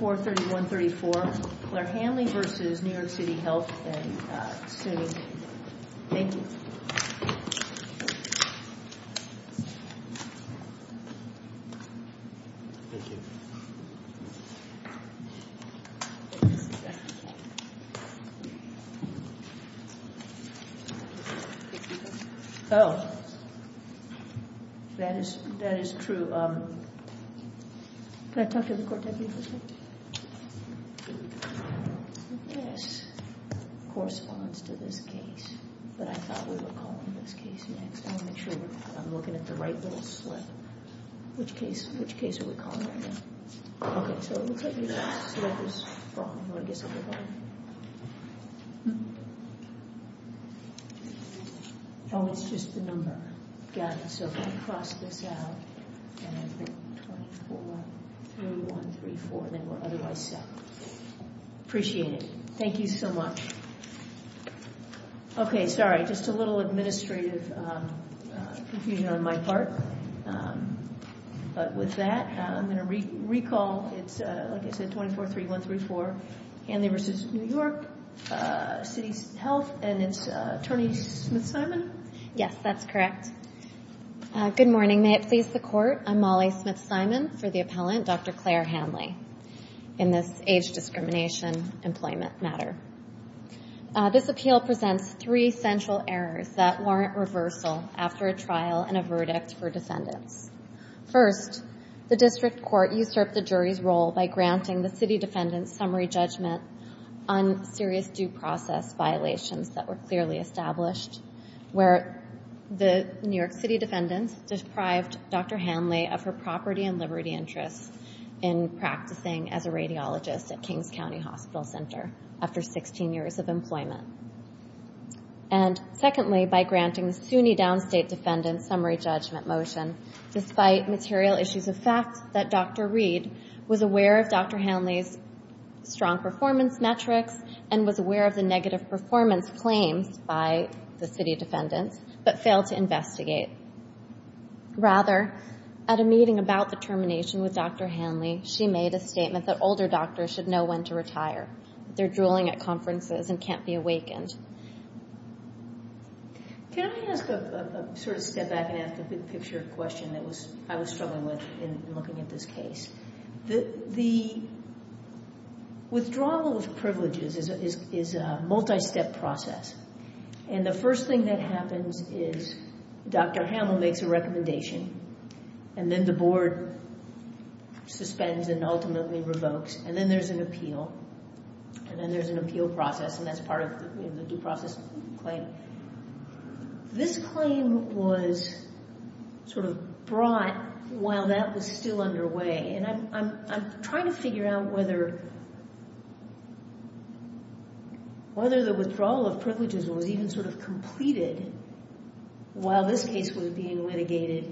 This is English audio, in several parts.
2431-34, Clare Hanley v. New York City Health and Sooning. Thank you. Thank you. Oh. That is true. Can I talk to the court deputy for a second? This corresponds to this case, but I thought we were calling this case next. I want to make sure I'm looking at the right little slip. Which case are we calling right now? Okay, so it looks like your slip is wrong. Oh, it's just the number. Got it. So if I cross this out, and I think 2431-34, then we're otherwise set. Appreciate it. Thank you so much. Okay, sorry, just a little administrative confusion on my part. But with that, I'm going to recall it's, like I said, 2431-34, Hanley v. New York City Health, and it's Attorney Smith-Simon? Yes, that's correct. Good morning. May it please the Court, I'm Molly Smith-Simon for the appellant, Dr. Clare Hanley, in this age discrimination employment matter. This appeal presents three central errors that warrant reversal after a trial and a verdict for defendants. First, the district court usurped the jury's role by granting the city defendant's summary judgment on serious due process violations that were clearly established, where the New York City defendant deprived Dr. Hanley of her property and liberty interests in practicing as a radiologist at Kings County Hospital Center after 16 years of employment. And secondly, by granting the SUNY downstate defendant's summary judgment motion, despite material issues of fact that Dr. Reed was aware of Dr. Hanley's strong performance metrics and was aware of the negative performance claims by the city defendants, but failed to investigate. Rather, at a meeting about the termination with Dr. Hanley, she made a statement that older doctors should know when to retire, that they're drooling at conferences and can't be awakened. Can I ask a sort of step back and ask a big picture question that I was struggling with in looking at this case? The withdrawal of privileges is a multi-step process, and the first thing that happens is Dr. Hanley makes a recommendation, and then the board suspends and ultimately revokes, and then there's an appeal, and then there's an appeal process, and that's part of the due process claim. This claim was sort of brought while that was still underway, and I'm trying to figure out whether the withdrawal of privileges was even sort of completed while this case was being litigated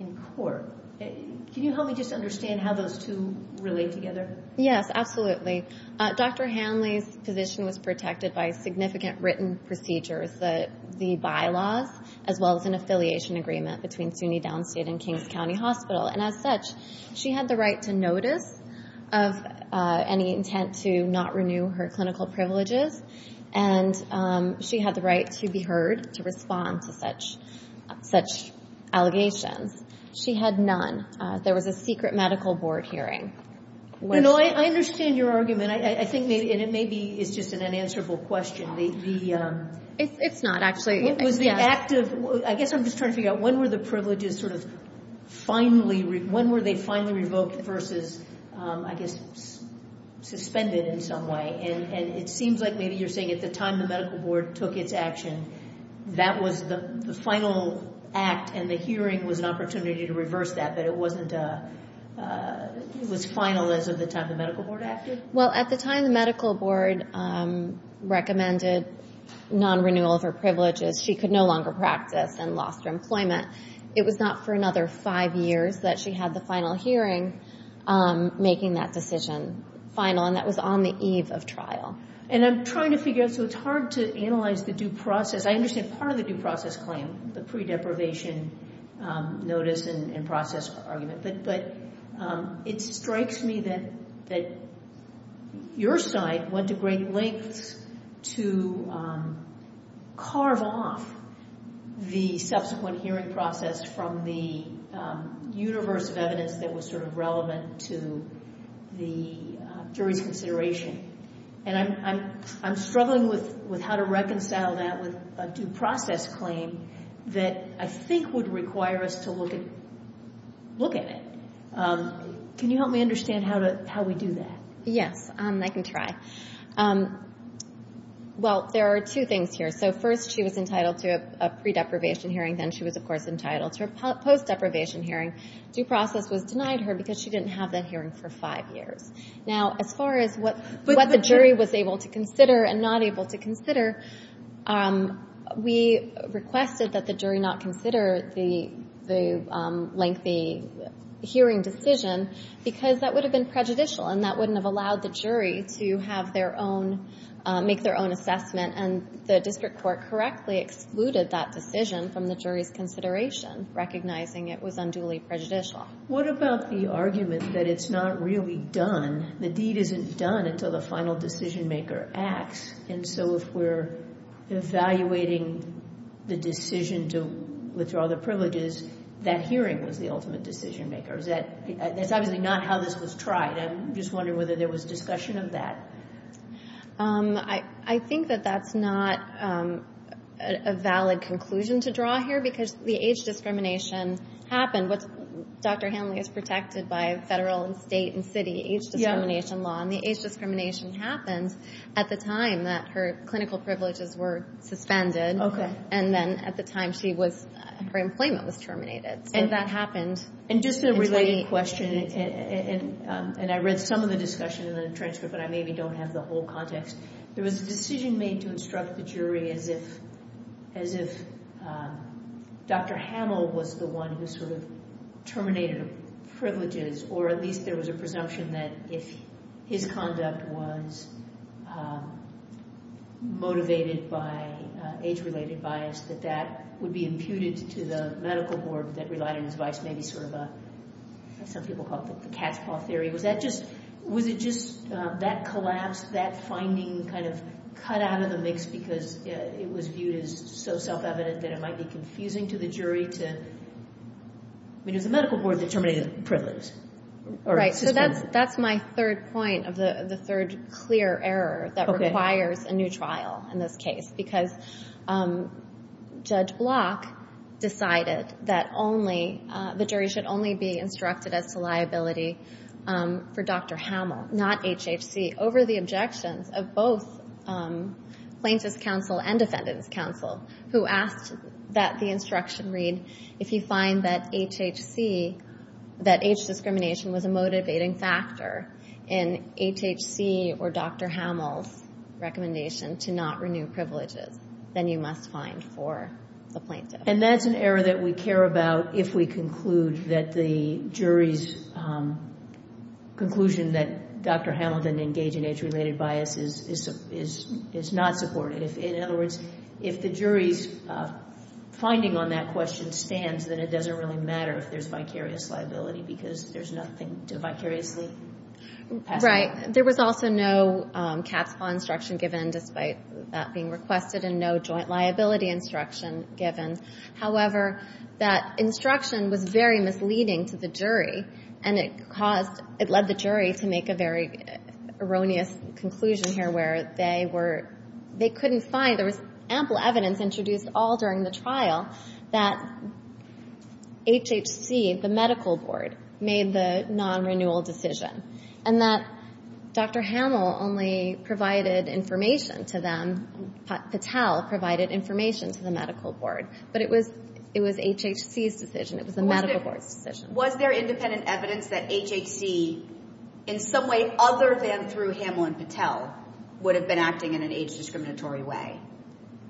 in court. Can you help me just understand how those two relate together? Yes, absolutely. Dr. Hanley's position was protected by significant written procedures, the bylaws, as well as an affiliation agreement between SUNY Downstate and Kings County Hospital, and as such, she had the right to notice of any intent to not renew her clinical privileges, and she had the right to be heard to respond to such allegations. She had none. There was a secret medical board hearing. You know, I understand your argument, and it maybe is just an unanswerable question. It's not, actually. I guess I'm just trying to figure out when were the privileges sort of finally revoked versus, I guess, suspended in some way, and it seems like maybe you're saying at the time the medical board took its action, that was the final act and the hearing was an opportunity to reverse that, but it was final as of the time the medical board acted? Well, at the time the medical board recommended non-renewal of her privileges. She could no longer practice and lost her employment. It was not for another five years that she had the final hearing making that decision final, and that was on the eve of trial. And I'm trying to figure out, so it's hard to analyze the due process. claim, the pre-deprivation notice and process argument, but it strikes me that your side went to great lengths to carve off the subsequent hearing process from the universe of evidence that was sort of relevant to the jury's consideration, and I'm struggling with how to reconcile that with a due process claim that I think would require us to look at it. Can you help me understand how we do that? Yes, I can try. Well, there are two things here. So first she was entitled to a pre-deprivation hearing. Then she was, of course, entitled to a post-deprivation hearing. Due process was denied her because she didn't have that hearing for five years. Now, as far as what the jury was able to consider and not able to consider, we requested that the jury not consider the lengthy hearing decision because that would have been prejudicial, and that wouldn't have allowed the jury to make their own assessment, and the district court correctly excluded that decision from the jury's consideration, recognizing it was unduly prejudicial. What about the argument that it's not really done, the deed isn't done until the final decision-maker acts, and so if we're evaluating the decision to withdraw the privileges, that hearing was the ultimate decision-maker. That's obviously not how this was tried. I'm just wondering whether there was discussion of that. I think that that's not a valid conclusion to draw here because the age discrimination happened. Dr. Hamill is protected by federal and state and city age discrimination law, and the age discrimination happened at the time that her clinical privileges were suspended, and then at the time her employment was terminated, so that happened. Just a related question, and I read some of the discussion in the transcript, but I maybe don't have the whole context. There was a decision made to instruct the jury as if Dr. Hamill was the one who sort of terminated her privileges, or at least there was a presumption that if his conduct was motivated by age-related bias, that that would be imputed to the medical board that relied on his advice, maybe sort of what some people call the cat's paw theory. Was it just that collapse, that finding kind of cut out of the mix because it was viewed as so self-evident that it might be confusing to the jury? I mean, it was the medical board that terminated the privileges. Right, so that's my third point of the third clear error that requires a new trial in this case because Judge Block decided that the jury should only be instructed as to liability for Dr. Hamill, not HHC, over the objections of both plaintiff's counsel and defendant's counsel who asked that the instruction read, if you find that HHC, that age discrimination was a motivating factor in HHC or Dr. Hamill's recommendation to not renew privileges, then you must find for the plaintiff. And that's an error that we care about if we conclude that the jury's conclusion that Dr. Hamill didn't engage in age-related bias is not supported. In other words, if the jury's finding on that question stands, then it doesn't really matter if there's vicarious liability because there's nothing to vicariously pass it on. Right. There was also no cat's paw instruction given despite that being requested and no joint liability instruction given. However, that instruction was very misleading to the jury, and it led the jury to make a very erroneous conclusion here where they couldn't find ample evidence introduced all during the trial that HHC, the medical board, made the non-renewal decision and that Dr. Hamill only provided information to them. Patel provided information to the medical board. But it was HHC's decision. It was the medical board's decision. Was there independent evidence that HHC, in some way other than through Hamill and Patel, would have been acting in an age-discriminatory way?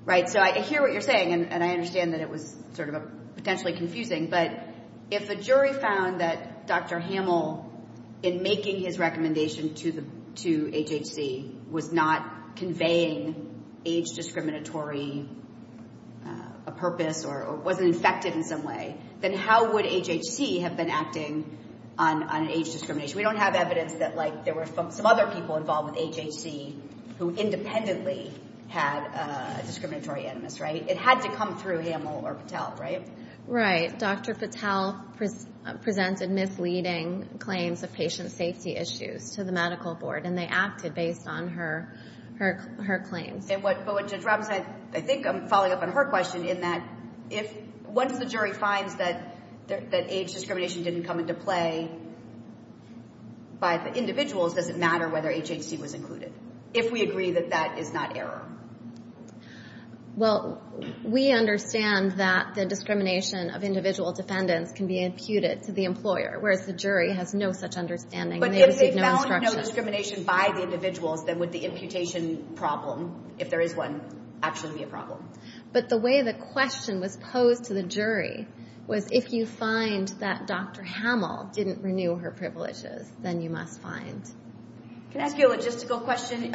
Right. So I hear what you're saying, and I understand that it was sort of potentially confusing, but if a jury found that Dr. Hamill, in making his recommendation to HHC, was not conveying age-discriminatory purpose or wasn't infected in some way, then how would HHC have been acting on age discrimination? We don't have evidence that there were some other people involved with HHC who independently had a discriminatory animus, right? It had to come through Hamill or Patel, right? Right. Dr. Patel presented misleading claims of patient safety issues to the medical board, and they acted based on her claims. But what Judge Robinson, I think I'm following up on her question, in that once the jury finds that age discrimination didn't come into play by the individuals, does it matter whether HHC was included, if we agree that that is not error? Well, we understand that the discrimination of individual defendants can be imputed to the employer, whereas the jury has no such understanding, and they receive no instruction. But if they found no discrimination by the individuals, then would the imputation problem, if there is one, actually be a problem? But the way the question was posed to the jury was, if you find that Dr. Hamill didn't renew her privileges, then you must find. Can I ask you a logistical question?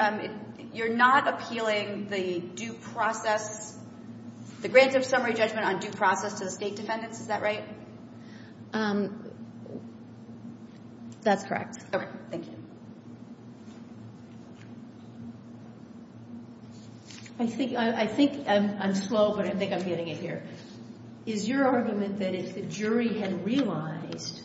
You're not appealing the due process, the Grants of Summary Judgment on due process to the state defendants, is that right? That's correct. Okay, thank you. I think I'm slow, but I think I'm getting it here. Is your argument that if the jury had realized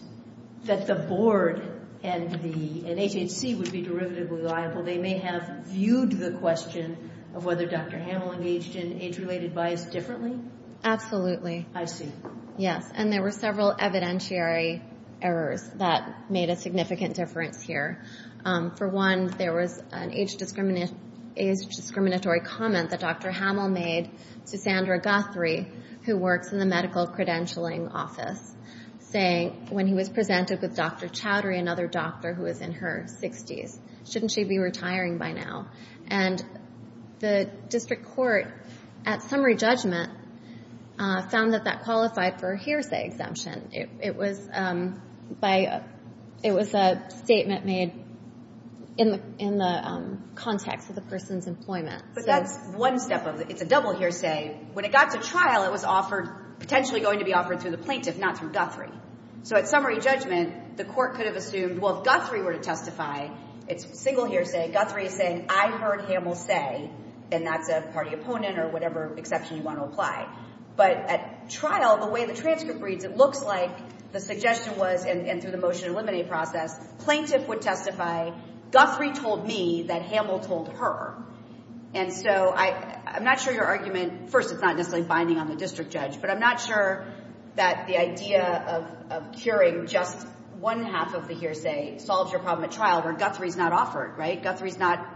that the board and HHC would be derivatively liable, they may have viewed the question of whether Dr. Hamill engaged in age-related bias differently? Absolutely. I see. Yes, and there were several evidentiary errors that made a significant difference here. For one, there was an age-discriminatory comment that Dr. Hamill made to Sandra Guthrie, who works in the Medical Credentialing Office, saying when he was presented with Dr. Chowdhury, another doctor who was in her 60s, shouldn't she be retiring by now? And the district court, at summary judgment, found that that qualified for a hearsay exemption. It was a statement made in the context of the person's employment. But that's one step of it. It's a double hearsay. When it got to trial, it was offered, potentially going to be offered through the plaintiff, not through Guthrie. So at summary judgment, the court could have assumed, well, if Guthrie were to testify, it's single hearsay. Guthrie is saying, I heard Hamill say, and that's a party opponent or whatever exception you want to apply. But at trial, the way the transcript reads, it looks like the suggestion was, and through the motion to eliminate process, plaintiff would testify, Guthrie told me that Hamill told her. And so I'm not sure your argument, first, it's not necessarily binding on the district judge, but I'm not sure that the idea of curing just one half of the hearsay solves your problem at trial, where Guthrie's not offered, right? Guthrie's not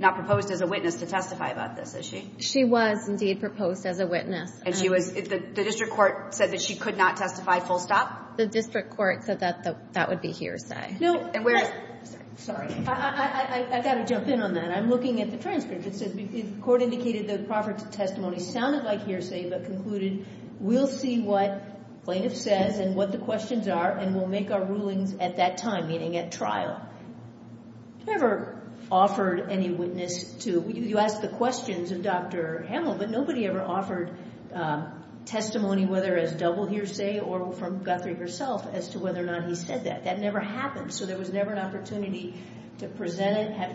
proposed as a witness to testify about this, is she? She was, indeed, proposed as a witness. And the district court said that she could not testify full stop? The district court said that that would be hearsay. No. Sorry. I've got to jump in on that. I'm looking at the transcript. It says the court indicated the proffer testimony sounded like hearsay, but concluded, we'll see what plaintiff says and what the questions are, and we'll make our rulings at that time, meaning at trial. Never offered any witness to, you asked the questions of Dr. Hamill, but nobody ever offered testimony, whether as double hearsay or from Guthrie herself, as to whether or not he said that. That never happened. So there was never an opportunity to present it, have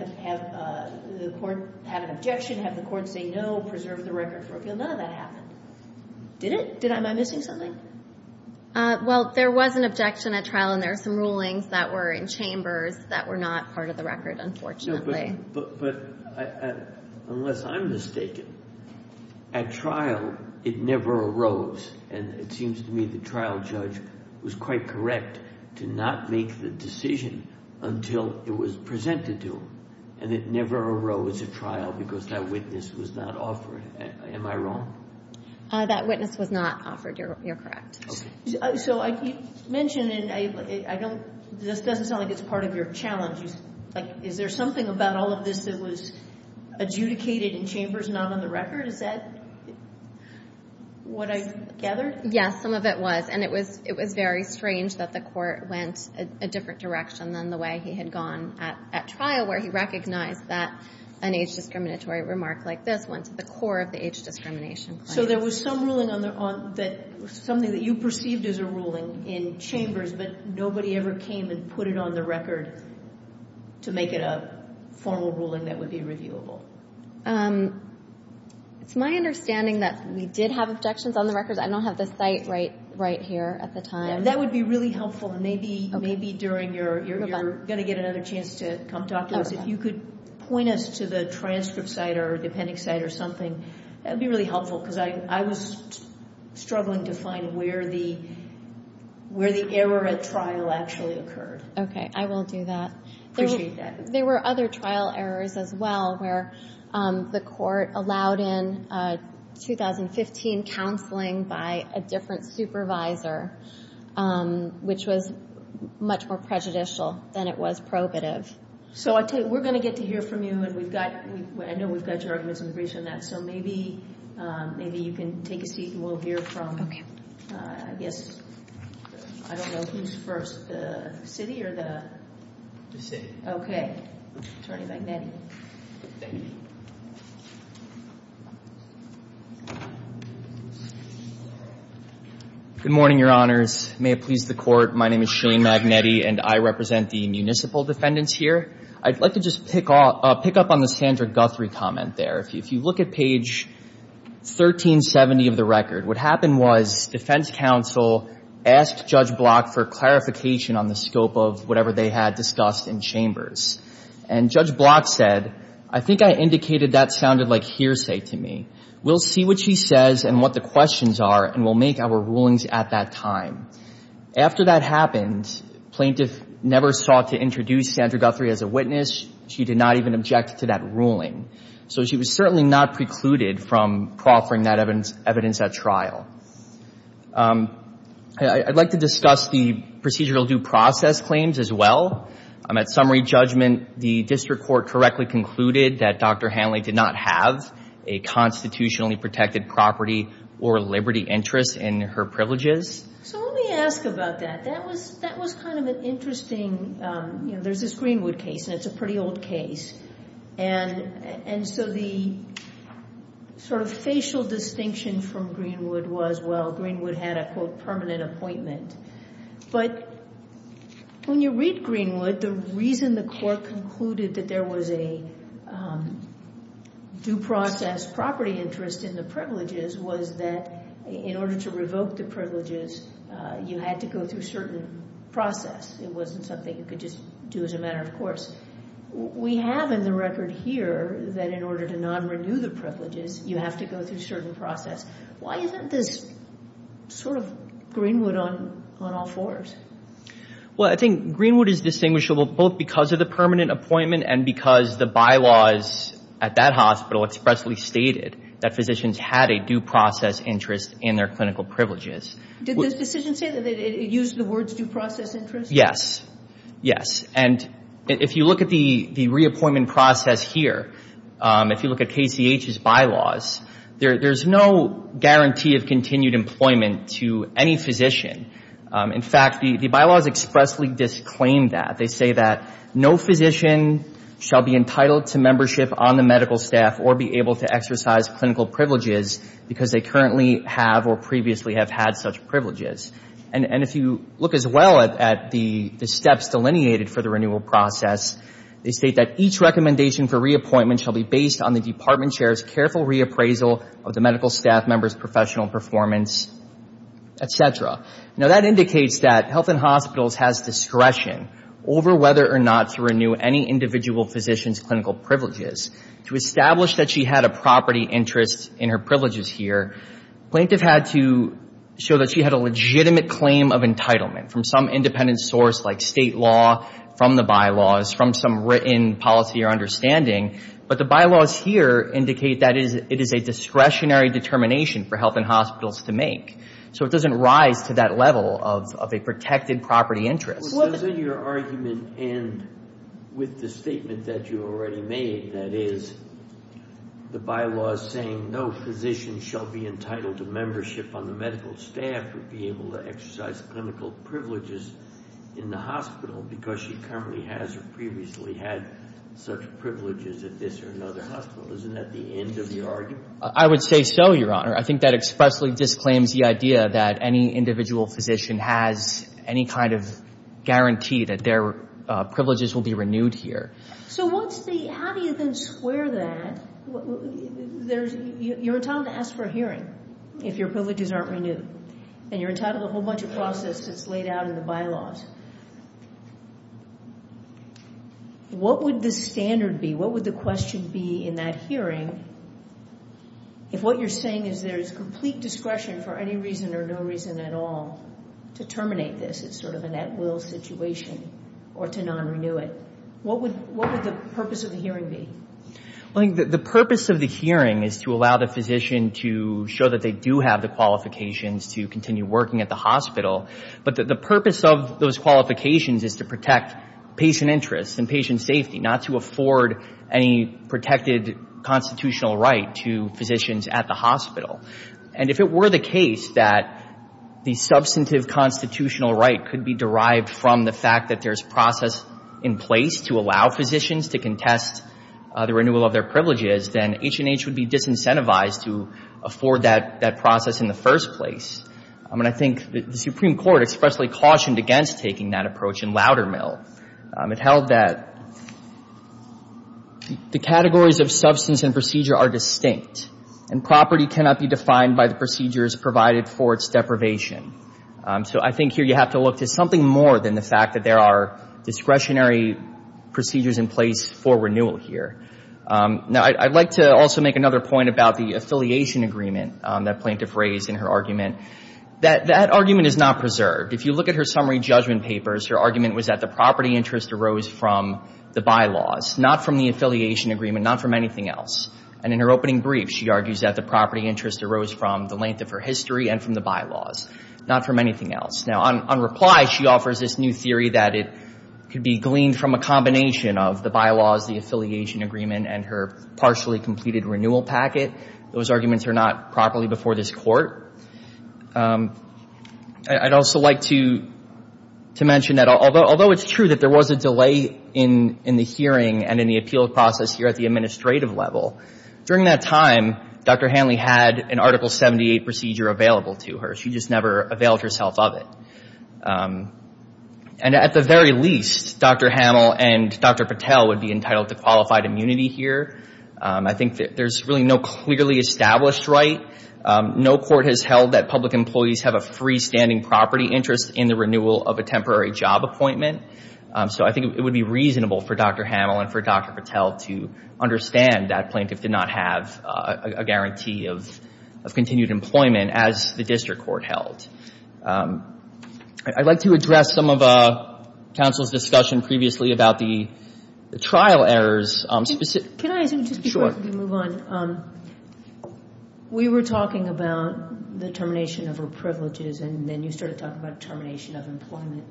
the court have an objection, have the court say no, preserve the record for appeal. None of that happened. Did it? Am I missing something? Well, there was an objection at trial, and there are some rulings that were in chambers that were not part of the record, unfortunately. But unless I'm mistaken, at trial it never arose, and it seems to me the trial judge was quite correct to not make the decision until it was presented to him, and it never arose at trial because that witness was not offered. Am I wrong? That witness was not offered. You're correct. Okay. So you mentioned, and this doesn't sound like it's part of your challenge. Is there something about all of this that was adjudicated in chambers not on the record? Is that what I've gathered? Yes, some of it was. And it was very strange that the court went a different direction than the way he had gone at trial, where he recognized that an age-discriminatory remark like this went to the core of the age-discrimination claim. So there was some ruling that was something that you perceived as a ruling in chambers, but nobody ever came and put it on the record to make it a formal ruling that would be reviewable? It's my understanding that we did have objections on the records. I don't have the site right here at the time. That would be really helpful. Maybe during your, you're going to get another chance to come talk to us. If you could point us to the transcript site or the appendix site or something, that would be really helpful because I was struggling to find where the error at trial actually occurred. Okay. I will do that. I appreciate that. There were other trial errors as well where the court allowed in 2015 counseling by a different supervisor, which was much more prejudicial than it was probative. So I tell you, we're going to get to hear from you, and I know we've got your arguments in the briefs on that, so maybe you can take a seat and we'll hear from, I guess, I don't know who's first, the city or the? The city. Okay. Attorney Magnetti. Thank you. Good morning, Your Honors. May it please the Court, my name is Shane Magnetti, and I represent the municipal defendants here. I'd like to just pick up on the Sandra Guthrie comment there. If you look at page 1370 of the record, what happened was defense counsel asked Judge Block for clarification on the scope of whatever they had discussed in chambers. And Judge Block said, I think I indicated that sounded like hearsay to me. We'll see what she says and what the questions are, and we'll make our rulings at that time. After that happened, plaintiff never sought to introduce Sandra Guthrie as a witness. She did not even object to that ruling. So she was certainly not precluded from proffering that evidence at trial. I'd like to discuss the procedural due process claims as well. At summary judgment, the district court correctly concluded that Dr. Hanley did not have a constitutionally protected property or liberty interest in her privileges. So let me ask about that. That was kind of an interesting, you know, there's this Greenwood case, and it's a pretty old case. And so the sort of facial distinction from Greenwood was, well, Greenwood had a, quote, permanent appointment. But when you read Greenwood, the reason the court concluded that there was a due process property interest in the privileges was that in order to revoke the privileges, you had to go through a certain process. It wasn't something you could just do as a matter of course. We have in the record here that in order to not renew the privileges, you have to go through a certain process. Why isn't this sort of Greenwood on all fours? Well, I think Greenwood is distinguishable both because of the permanent appointment and because the bylaws at that hospital expressly stated that physicians had a due process interest in their clinical privileges. Did the decision say that it used the words due process interest? Yes. Yes. And if you look at the reappointment process here, if you look at KCH's bylaws, there's no guarantee of continued employment to any physician. In fact, the bylaws expressly disclaim that. They say that no physician shall be entitled to membership on the medical staff or be able to exercise clinical privileges because they currently have or previously have had such privileges. And if you look as well at the steps delineated for the renewal process, they state that each recommendation for reappointment shall be based on the department chair's careful reappraisal of the medical staff member's professional performance, et cetera. Now, that indicates that Health and Hospitals has discretion over whether or not to renew any individual physician's clinical privileges. To establish that she had a property interest in her privileges here, plaintiff had to show that she had a legitimate claim of entitlement from some independent source like state law, from the bylaws, from some written policy or understanding. But the bylaws here indicate that it is a discretionary determination for Health and Hospitals to make. So it doesn't rise to that level of a protected property interest. But doesn't your argument end with the statement that you already made, that is, the bylaws saying no physician shall be entitled to membership on the medical staff or be able to exercise clinical privileges in the hospital because she currently has or previously had such privileges at this or another hospital? Isn't that the end of the argument? I would say so, Your Honor. I think that expressly disclaims the idea that any individual physician has any kind of guarantee that their privileges will be renewed here. So how do you then square that? You're entitled to ask for a hearing if your privileges aren't renewed, and you're entitled to a whole bunch of process that's laid out in the bylaws. What would the standard be? What would the question be in that hearing if what you're saying is there is complete discretion for any reason or no reason at all to terminate this? It's sort of an at-will situation or to non-renew it. What would the purpose of the hearing be? The purpose of the hearing is to allow the physician to show that they do have the qualifications to continue working at the hospital. But the purpose of those qualifications is to protect patient interests and patient safety, not to afford any protected constitutional right to physicians at the hospital. And if it were the case that the substantive constitutional right could be derived from the fact that there's process in place to allow physicians to contest the renewal of their privileges, then H&H would be disincentivized to afford that process in the first place. And I think the Supreme Court expressly cautioned against taking that approach in Loudermill. It held that the categories of substance and procedure are distinct, and property cannot be defined by the procedures provided for its deprivation. So I think here you have to look to something more than the fact that there are discretionary procedures in place for renewal here. Now, I'd like to also make another point about the affiliation agreement that plaintiff raised in her argument. That argument is not preserved. If you look at her summary judgment papers, her argument was that the property interest arose from the bylaws, not from the affiliation agreement, not from anything else. And in her opening brief, she argues that the property interest arose from the length of her history and from the bylaws, not from anything else. Now, on reply, she offers this new theory that it could be gleaned from a combination of the bylaws, the affiliation agreement, and her partially completed renewal packet. Those arguments are not properly before this Court. I'd also like to mention that although it's true that there was a delay in the hearing and in the appeal process here at the administrative level, during that time, Dr. Hanley had an Article 78 procedure available to her. She just never availed herself of it. And at the very least, Dr. Hamill and Dr. Patel would be entitled to qualified immunity here. I think that there's really no clearly established right. No court has held that public employees have a freestanding property interest in the renewal of a temporary job appointment. So I think it would be reasonable for Dr. Hamill and for Dr. Patel to understand that plaintiff did not have a guarantee of continued employment as the district court held. I'd like to address some of counsel's discussion previously about the trial errors. Can I just quickly move on? Sure. We were talking about the termination of her privileges, and then you started talking about termination of employment.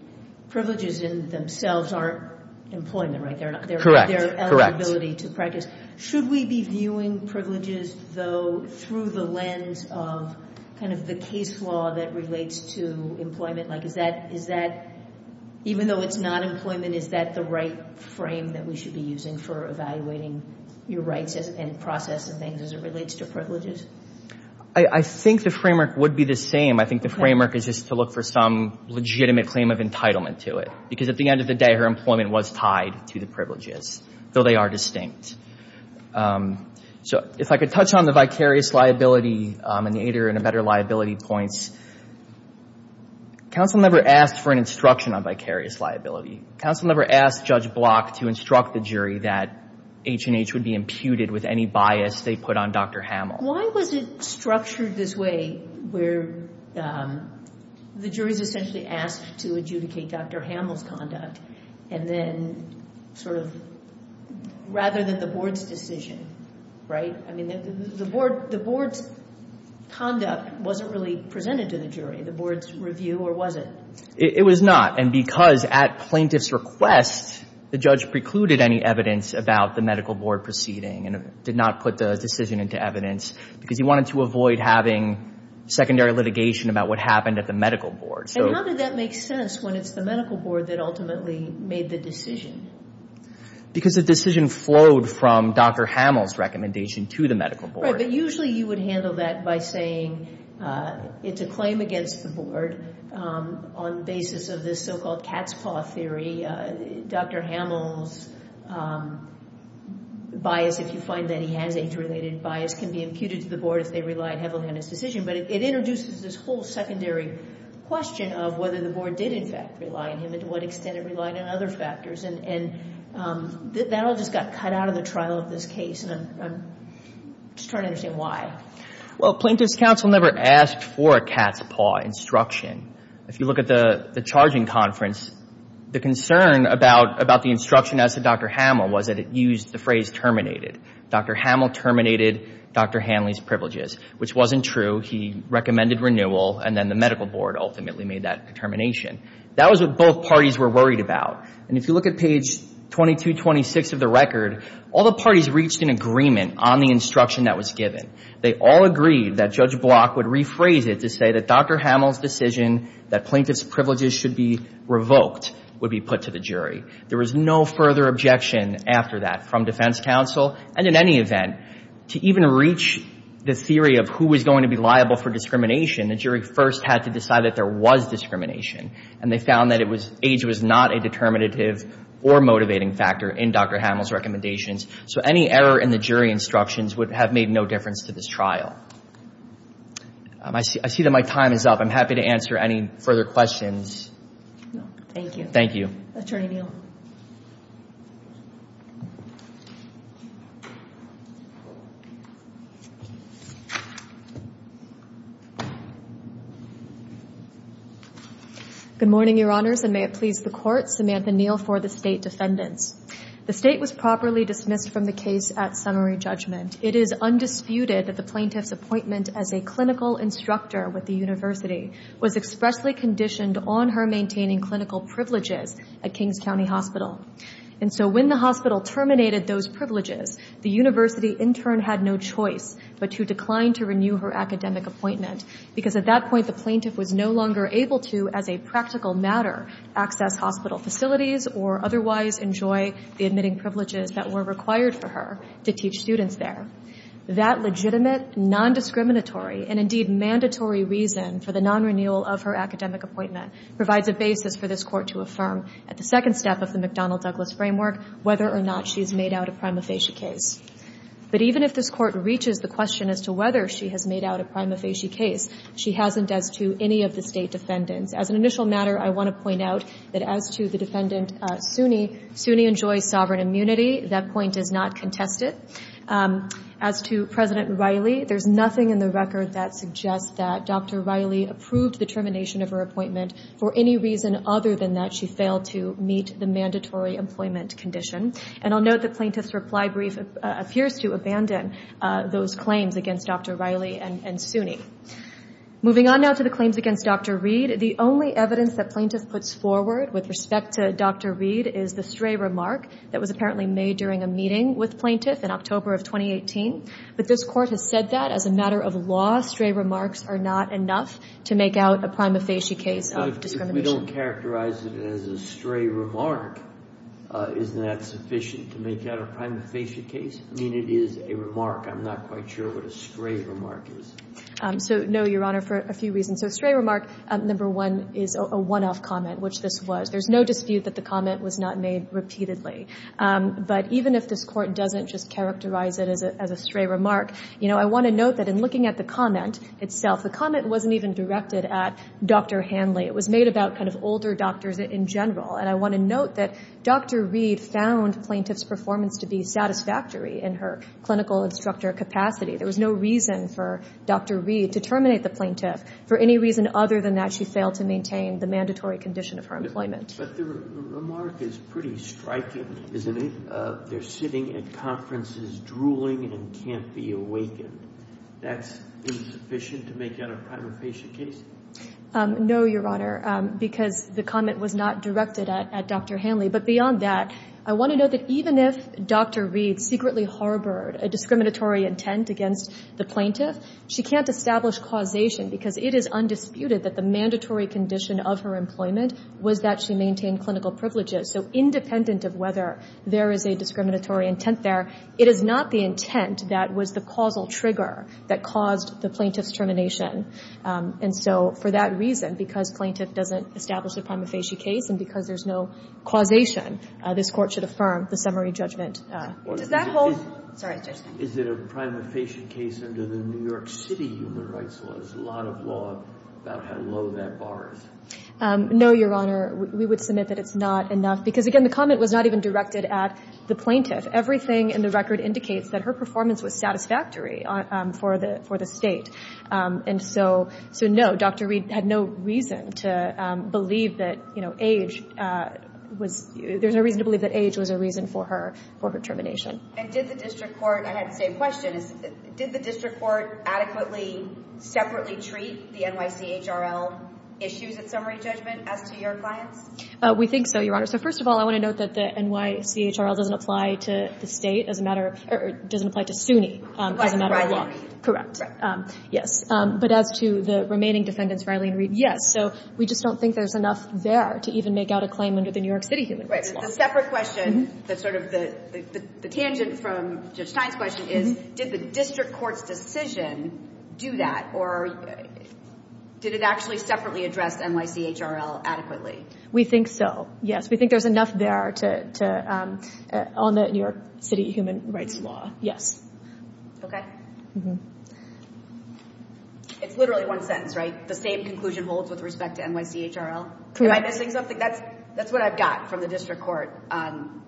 Privileges in themselves aren't employment, right? Correct. They're eligibility to practice. Should we be viewing privileges, though, through the lens of kind of the case law that relates to employment? Like, is that, even though it's not employment, is that the right frame that we should be using for evaluating your rights and process and things as it relates to privileges? I think the framework would be the same. I think the framework is just to look for some legitimate claim of entitlement to it, because at the end of the day, her employment was tied to the privileges, though they are distinct. So if I could touch on the vicarious liability and the aider and the better liability points. Counsel never asked for an instruction on vicarious liability. Counsel never asked Judge Block to instruct the jury that H&H would be imputed with any bias they put on Dr. Hamill. Why was it structured this way where the jury is essentially asked to adjudicate Dr. Hamill's conduct and then sort of rather than the board's decision, right? I mean, the board's conduct wasn't really presented to the jury. The board's review, or was it? It was not, and because at plaintiff's request, the judge precluded any evidence about the medical board proceeding and did not put the decision into evidence, because he wanted to avoid having secondary litigation about what happened at the medical board. And how did that make sense when it's the medical board that ultimately made the decision? Because the decision flowed from Dr. Hamill's recommendation to the medical board. Right, but usually you would handle that by saying it's a claim against the board on the basis of this so-called cat's paw theory. Dr. Hamill's bias, if you find that he has age-related bias, can be imputed to the board if they relied heavily on his decision. But it introduces this whole secondary question of whether the board did in fact rely on him and to what extent it relied on other factors. And that all just got cut out of the trial of this case, and I'm just trying to understand why. Well, plaintiff's counsel never asked for a cat's paw instruction. If you look at the charging conference, the concern about the instruction as to Dr. Hamill was that it used the phrase terminated. Dr. Hamill terminated Dr. Hanley's privileges, which wasn't true. He recommended renewal, and then the medical board ultimately made that determination. That was what both parties were worried about. And if you look at page 2226 of the record, all the parties reached an agreement on the instruction that was given. They all agreed that Judge Block would rephrase it to say that Dr. Hamill's decision that plaintiff's privileges should be revoked would be put to the jury. There was no further objection after that from defense counsel. And in any event, to even reach the theory of who was going to be liable for discrimination, the jury first had to decide that there was discrimination, and they found that age was not a determinative or motivating factor in Dr. Hamill's recommendations. So any error in the jury instructions would have made no difference to this trial. I see that my time is up. I'm happy to answer any further questions. Thank you. Thank you. Attorney Neal. Good morning, Your Honors, and may it please the Court. Samantha Neal for the State Defendants. The State was properly dismissed from the case at summary judgment. It is undisputed that the plaintiff's appointment as a clinical instructor with the university was expressly conditioned on her maintaining clinical privileges at Kings County Hospital. And so when the hospital terminated those privileges, the university intern had no choice but to decline to renew her academic appointment, because at that point the plaintiff was no longer able to, as a practical matter, access hospital facilities or otherwise enjoy the admitting privileges that were required for her to teach students there. That legitimate, non-discriminatory, and indeed mandatory reason for the non-renewal of her academic appointment provides a basis for this Court to affirm at the second step of the McDonnell-Douglas framework whether or not she has made out a prima facie case. But even if this Court reaches the question as to whether she has made out a prima facie case, she hasn't as to any of the State Defendants. As an initial matter, I want to point out that as to the Defendant Suni, Suni enjoys sovereign immunity. That point is not contested. As to President Riley, there's nothing in the record that suggests that Dr. Riley approved the termination of her appointment for any reason other than that she failed to meet the mandatory employment condition. And I'll note the plaintiff's reply brief appears to abandon those claims against Dr. Riley and Suni. Moving on now to the claims against Dr. Reed, the only evidence that plaintiff puts forward with respect to Dr. Reed is the stray remark that was apparently made during a meeting with plaintiff in October of 2018. But this Court has said that as a matter of law, stray remarks are not enough to make out a prima facie case of discrimination. If we don't characterize it as a stray remark, isn't that sufficient to make out a prima facie case? I mean, it is a remark. I'm not quite sure what a stray remark is. So, no, Your Honor, for a few reasons. So a stray remark, number one, is a one-off comment, which this was. There's no dispute that the comment was not made repeatedly. But even if this Court doesn't just characterize it as a stray remark, you know, I want to note that in looking at the comment itself, the comment wasn't even directed at Dr. Hanley. It was made about kind of older doctors in general. And I want to note that Dr. Reed found plaintiff's performance to be satisfactory in her clinical instructor capacity. There was no reason for Dr. Reed to terminate the plaintiff. For any reason other than that, she failed to maintain the mandatory condition of her employment. But the remark is pretty striking, isn't it? They're sitting at conferences drooling and can't be awakened. That's insufficient to make out a prima facie case? No, Your Honor, because the comment was not directed at Dr. Hanley. But beyond that, I want to note that even if Dr. Reed secretly harbored a discriminatory intent against the plaintiff, she can't establish causation because it is undisputed that the mandatory condition of her employment was that she maintained clinical privileges. So independent of whether there is a discriminatory intent there, it is not the intent that was the causal trigger that caused the plaintiff's termination. And so for that reason, because plaintiff doesn't establish a prima facie case and because there's no causation, this Court should affirm the summary judgment. Does that hold? Is it a prima facie case under the New York City human rights law? There's a lot of law about how low that bar is. No, Your Honor. We would submit that it's not enough because, again, the comment was not even directed at the plaintiff. Everything in the record indicates that her performance was satisfactory for the State. And so, no, Dr. Reed had no reason to believe that age was – there's no reason to believe that age was a reason for her termination. And did the district court – I had the same question. Did the district court adequately, separately treat the NYCHRL issues at summary judgment as to your clients? We think so, Your Honor. So first of all, I want to note that the NYCHRL doesn't apply to the State as a matter – or it doesn't apply to SUNY as a matter of law. That's right. Yes. But as to the remaining defendants for Eileen Reed, yes. So we just don't think there's enough there to even make out a claim under the New York City human rights law. Right. The separate question that's sort of the tangent from Judge Stein's question is, did the district court's decision do that or did it actually separately address NYCHRL adequately? We think so, yes. We think there's enough there to – on the New York City human rights law, yes. Okay. It's literally one sentence, right? The same conclusion holds with respect to NYCHRL? Am I missing something? That's what I've got from the district court. And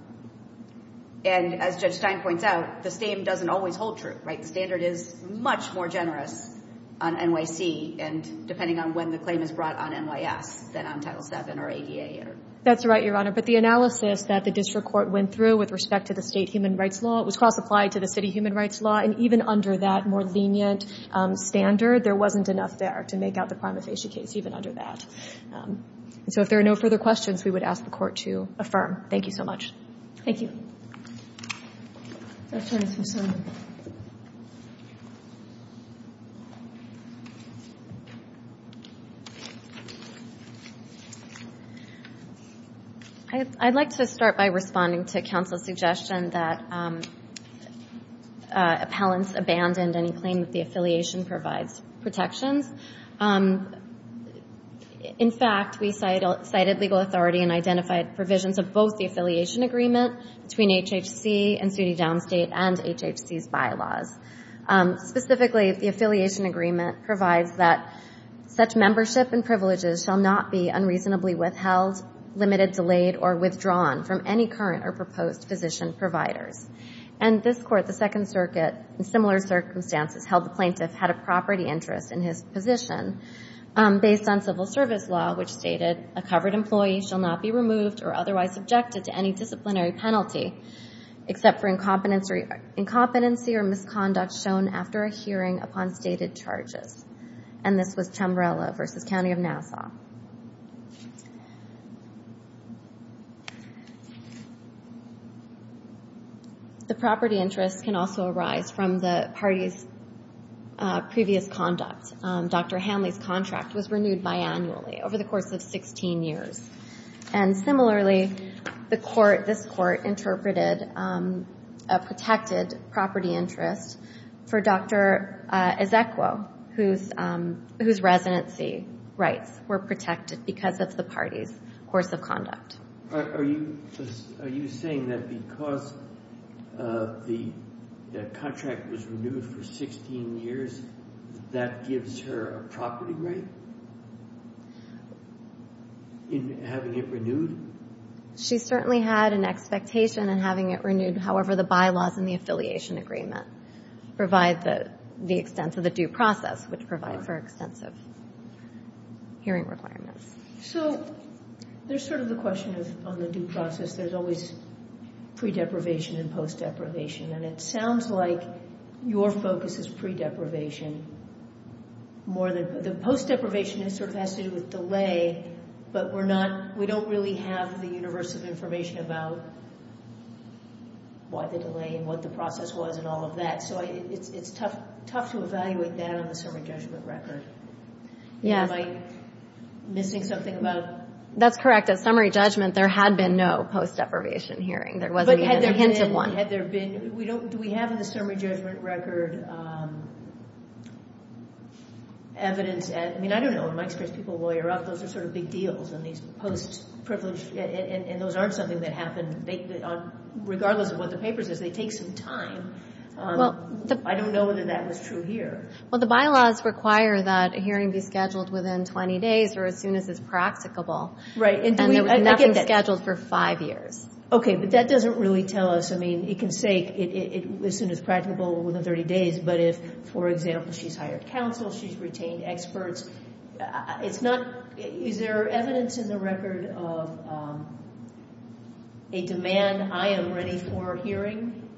as Judge Stein points out, the same doesn't always hold true, right? The standard is much more generous on NYC and depending on when the claim is brought on NYS than on Title VII or ADA. That's right, Your Honor. But the analysis that the district court went through with respect to the State human rights law was cross-applied to the City human rights law, and even under that more lenient standard, there wasn't enough there to make out the prima facie case, even under that. So if there are no further questions, we would ask the Court to affirm. Thank you so much. Thank you. Justice O'Sullivan. I'd like to start by responding to counsel's suggestion that appellants abandoned any claim that the affiliation provides protections. In fact, we cited legal authority and identified provisions of both the affiliation agreement between HHC and SUNY Downstate and HHC's bylaws. Specifically, the affiliation agreement provides that such membership and privileges shall not be unreasonably withheld, limited, delayed, or withdrawn from any current or proposed physician providers. And this Court, the Second Circuit, in similar circumstances, held the plaintiff had a property interest in his position based on civil service law, which stated, a covered employee shall not be removed or otherwise subjected to any disciplinary penalty except for incompetency or misconduct shown after a hearing upon stated charges. And this was Chamberlain v. County of Nassau. The property interest can also arise from the party's previous conduct. Dr. Hanley's contract was renewed biannually over the course of 16 years. And similarly, the Court, this Court, interpreted a protected property interest for Dr. Ezekiel, whose residency rights were protected because of the party's course of conduct. Are you saying that because the contract was renewed for 16 years, that gives her a property right in having it renewed? She certainly had an expectation in having it renewed. However, the bylaws in the affiliation agreement provide the extent of the due process, which provides for extensive hearing requirements. So there's sort of the question of, on the due process, there's always pre-deprivation and post-deprivation. And it sounds like your focus is pre-deprivation more than – the post-deprivation sort of has to do with delay, but we're not – we don't really have the universe of information about why the delay and what the process was and all of that. So it's tough to evaluate that on the serving judgment record. Yes. Am I missing something about – That's correct. At summary judgment, there had been no post-deprivation hearing. There wasn't even a hint of one. But had there been – do we have in the summary judgment record evidence – I mean, I don't know. In my experience, people lawyer up. Those are sort of big deals, and these post-privileged – and those aren't something that happen – regardless of what the paper says, they take some time. I don't know whether that was true here. Well, the bylaws require that a hearing be scheduled within 20 days or as soon as it's practicable. Right. And there was nothing scheduled for five years. Okay. But that doesn't really tell us – I mean, it can say as soon as practicable within 30 days, but if, for example, she's hired counsel, she's retained experts, it's not – is there evidence in the record of a demand, I am ready for a hearing?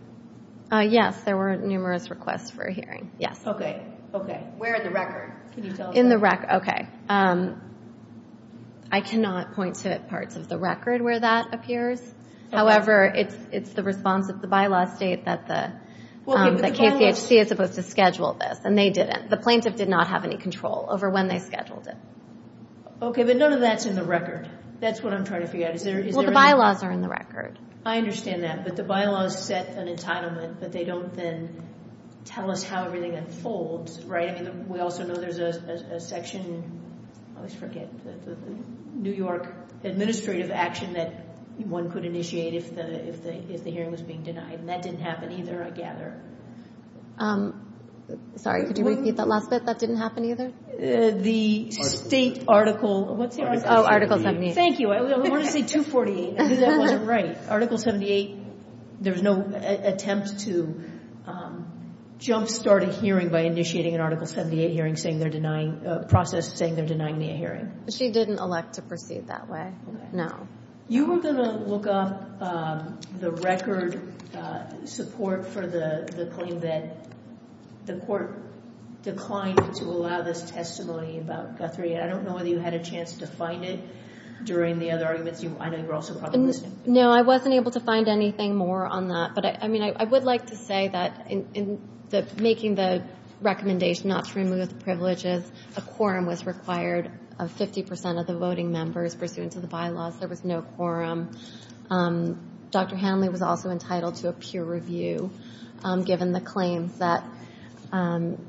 Yes. There were numerous requests for a hearing. Yes. Okay. Okay. Where in the record? Can you tell us that? In the – okay. I cannot point to parts of the record where that appears. However, it's the response of the bylaw state that the KCHC is supposed to schedule this, and they didn't. The plaintiff did not have any control over when they scheduled it. Okay. But none of that's in the record. That's what I'm trying to figure out. Is there – Well, the bylaws are in the record. I understand that. But the bylaws set an entitlement, but they don't then tell us how everything unfolds, right? I mean, we also know there's a section – I always forget – the New York administrative action that one could initiate if the hearing was being denied, and that didn't happen either, I gather. Sorry, could you repeat that last bit? That didn't happen either? The state article – what's the article? Oh, Article 78. Thank you. I wanted to say 248. That wasn't right. Article 78, there's no attempt to jumpstart a hearing by initiating an Article 78 hearing saying they're denying – process saying they're denying me a hearing. She didn't elect to proceed that way, no. You were going to look up the record support for the claim that the court declined to allow this testimony about Guthrie, and I don't know whether you had a chance to find it during the other arguments. I know you were also probably listening. No, I wasn't able to find anything more on that. But, I mean, I would like to say that in making the recommendation not to remove the privileges, a quorum was required of 50 percent of the voting members pursuant to the bylaws. There was no quorum. Dr. Hanley was also entitled to a peer review given the claims that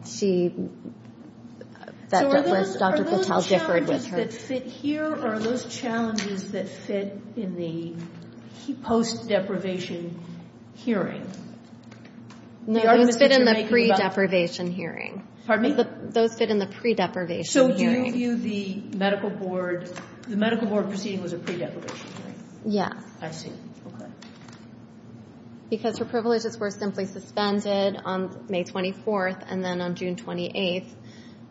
she – that Dr. Patel differed with her. Are those challenges that fit in the post-deprivation hearing? No, those fit in the pre-deprivation hearing. Pardon me? Those fit in the pre-deprivation hearing. So do you view the medical board – the medical board proceeding was a pre-deprivation hearing? Yes. I see. Okay. Because her privileges were simply suspended on May 24th, and then on June 28th,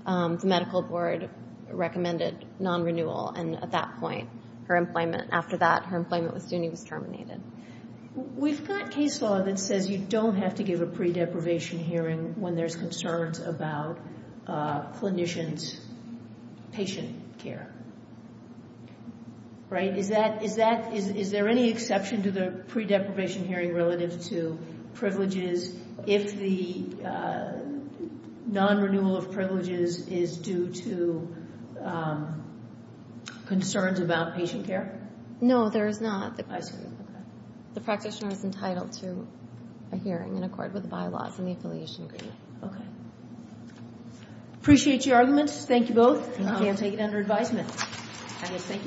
the medical board recommended non-renewal. And at that point, her employment – after that, her employment with SUNY was terminated. We've got case law that says you don't have to give a pre-deprivation hearing when there's concerns about clinicians' patient care, right? Is that – is there any exception to the pre-deprivation hearing relative to privileges if the non-renewal of privileges is due to concerns about patient care? No, there is not. I see. Okay. The practitioner is entitled to a hearing in accord with the bylaws and the affiliation agreement. Okay. Appreciate your arguments. Thank you both. Thank you. And I'll take it under advisement.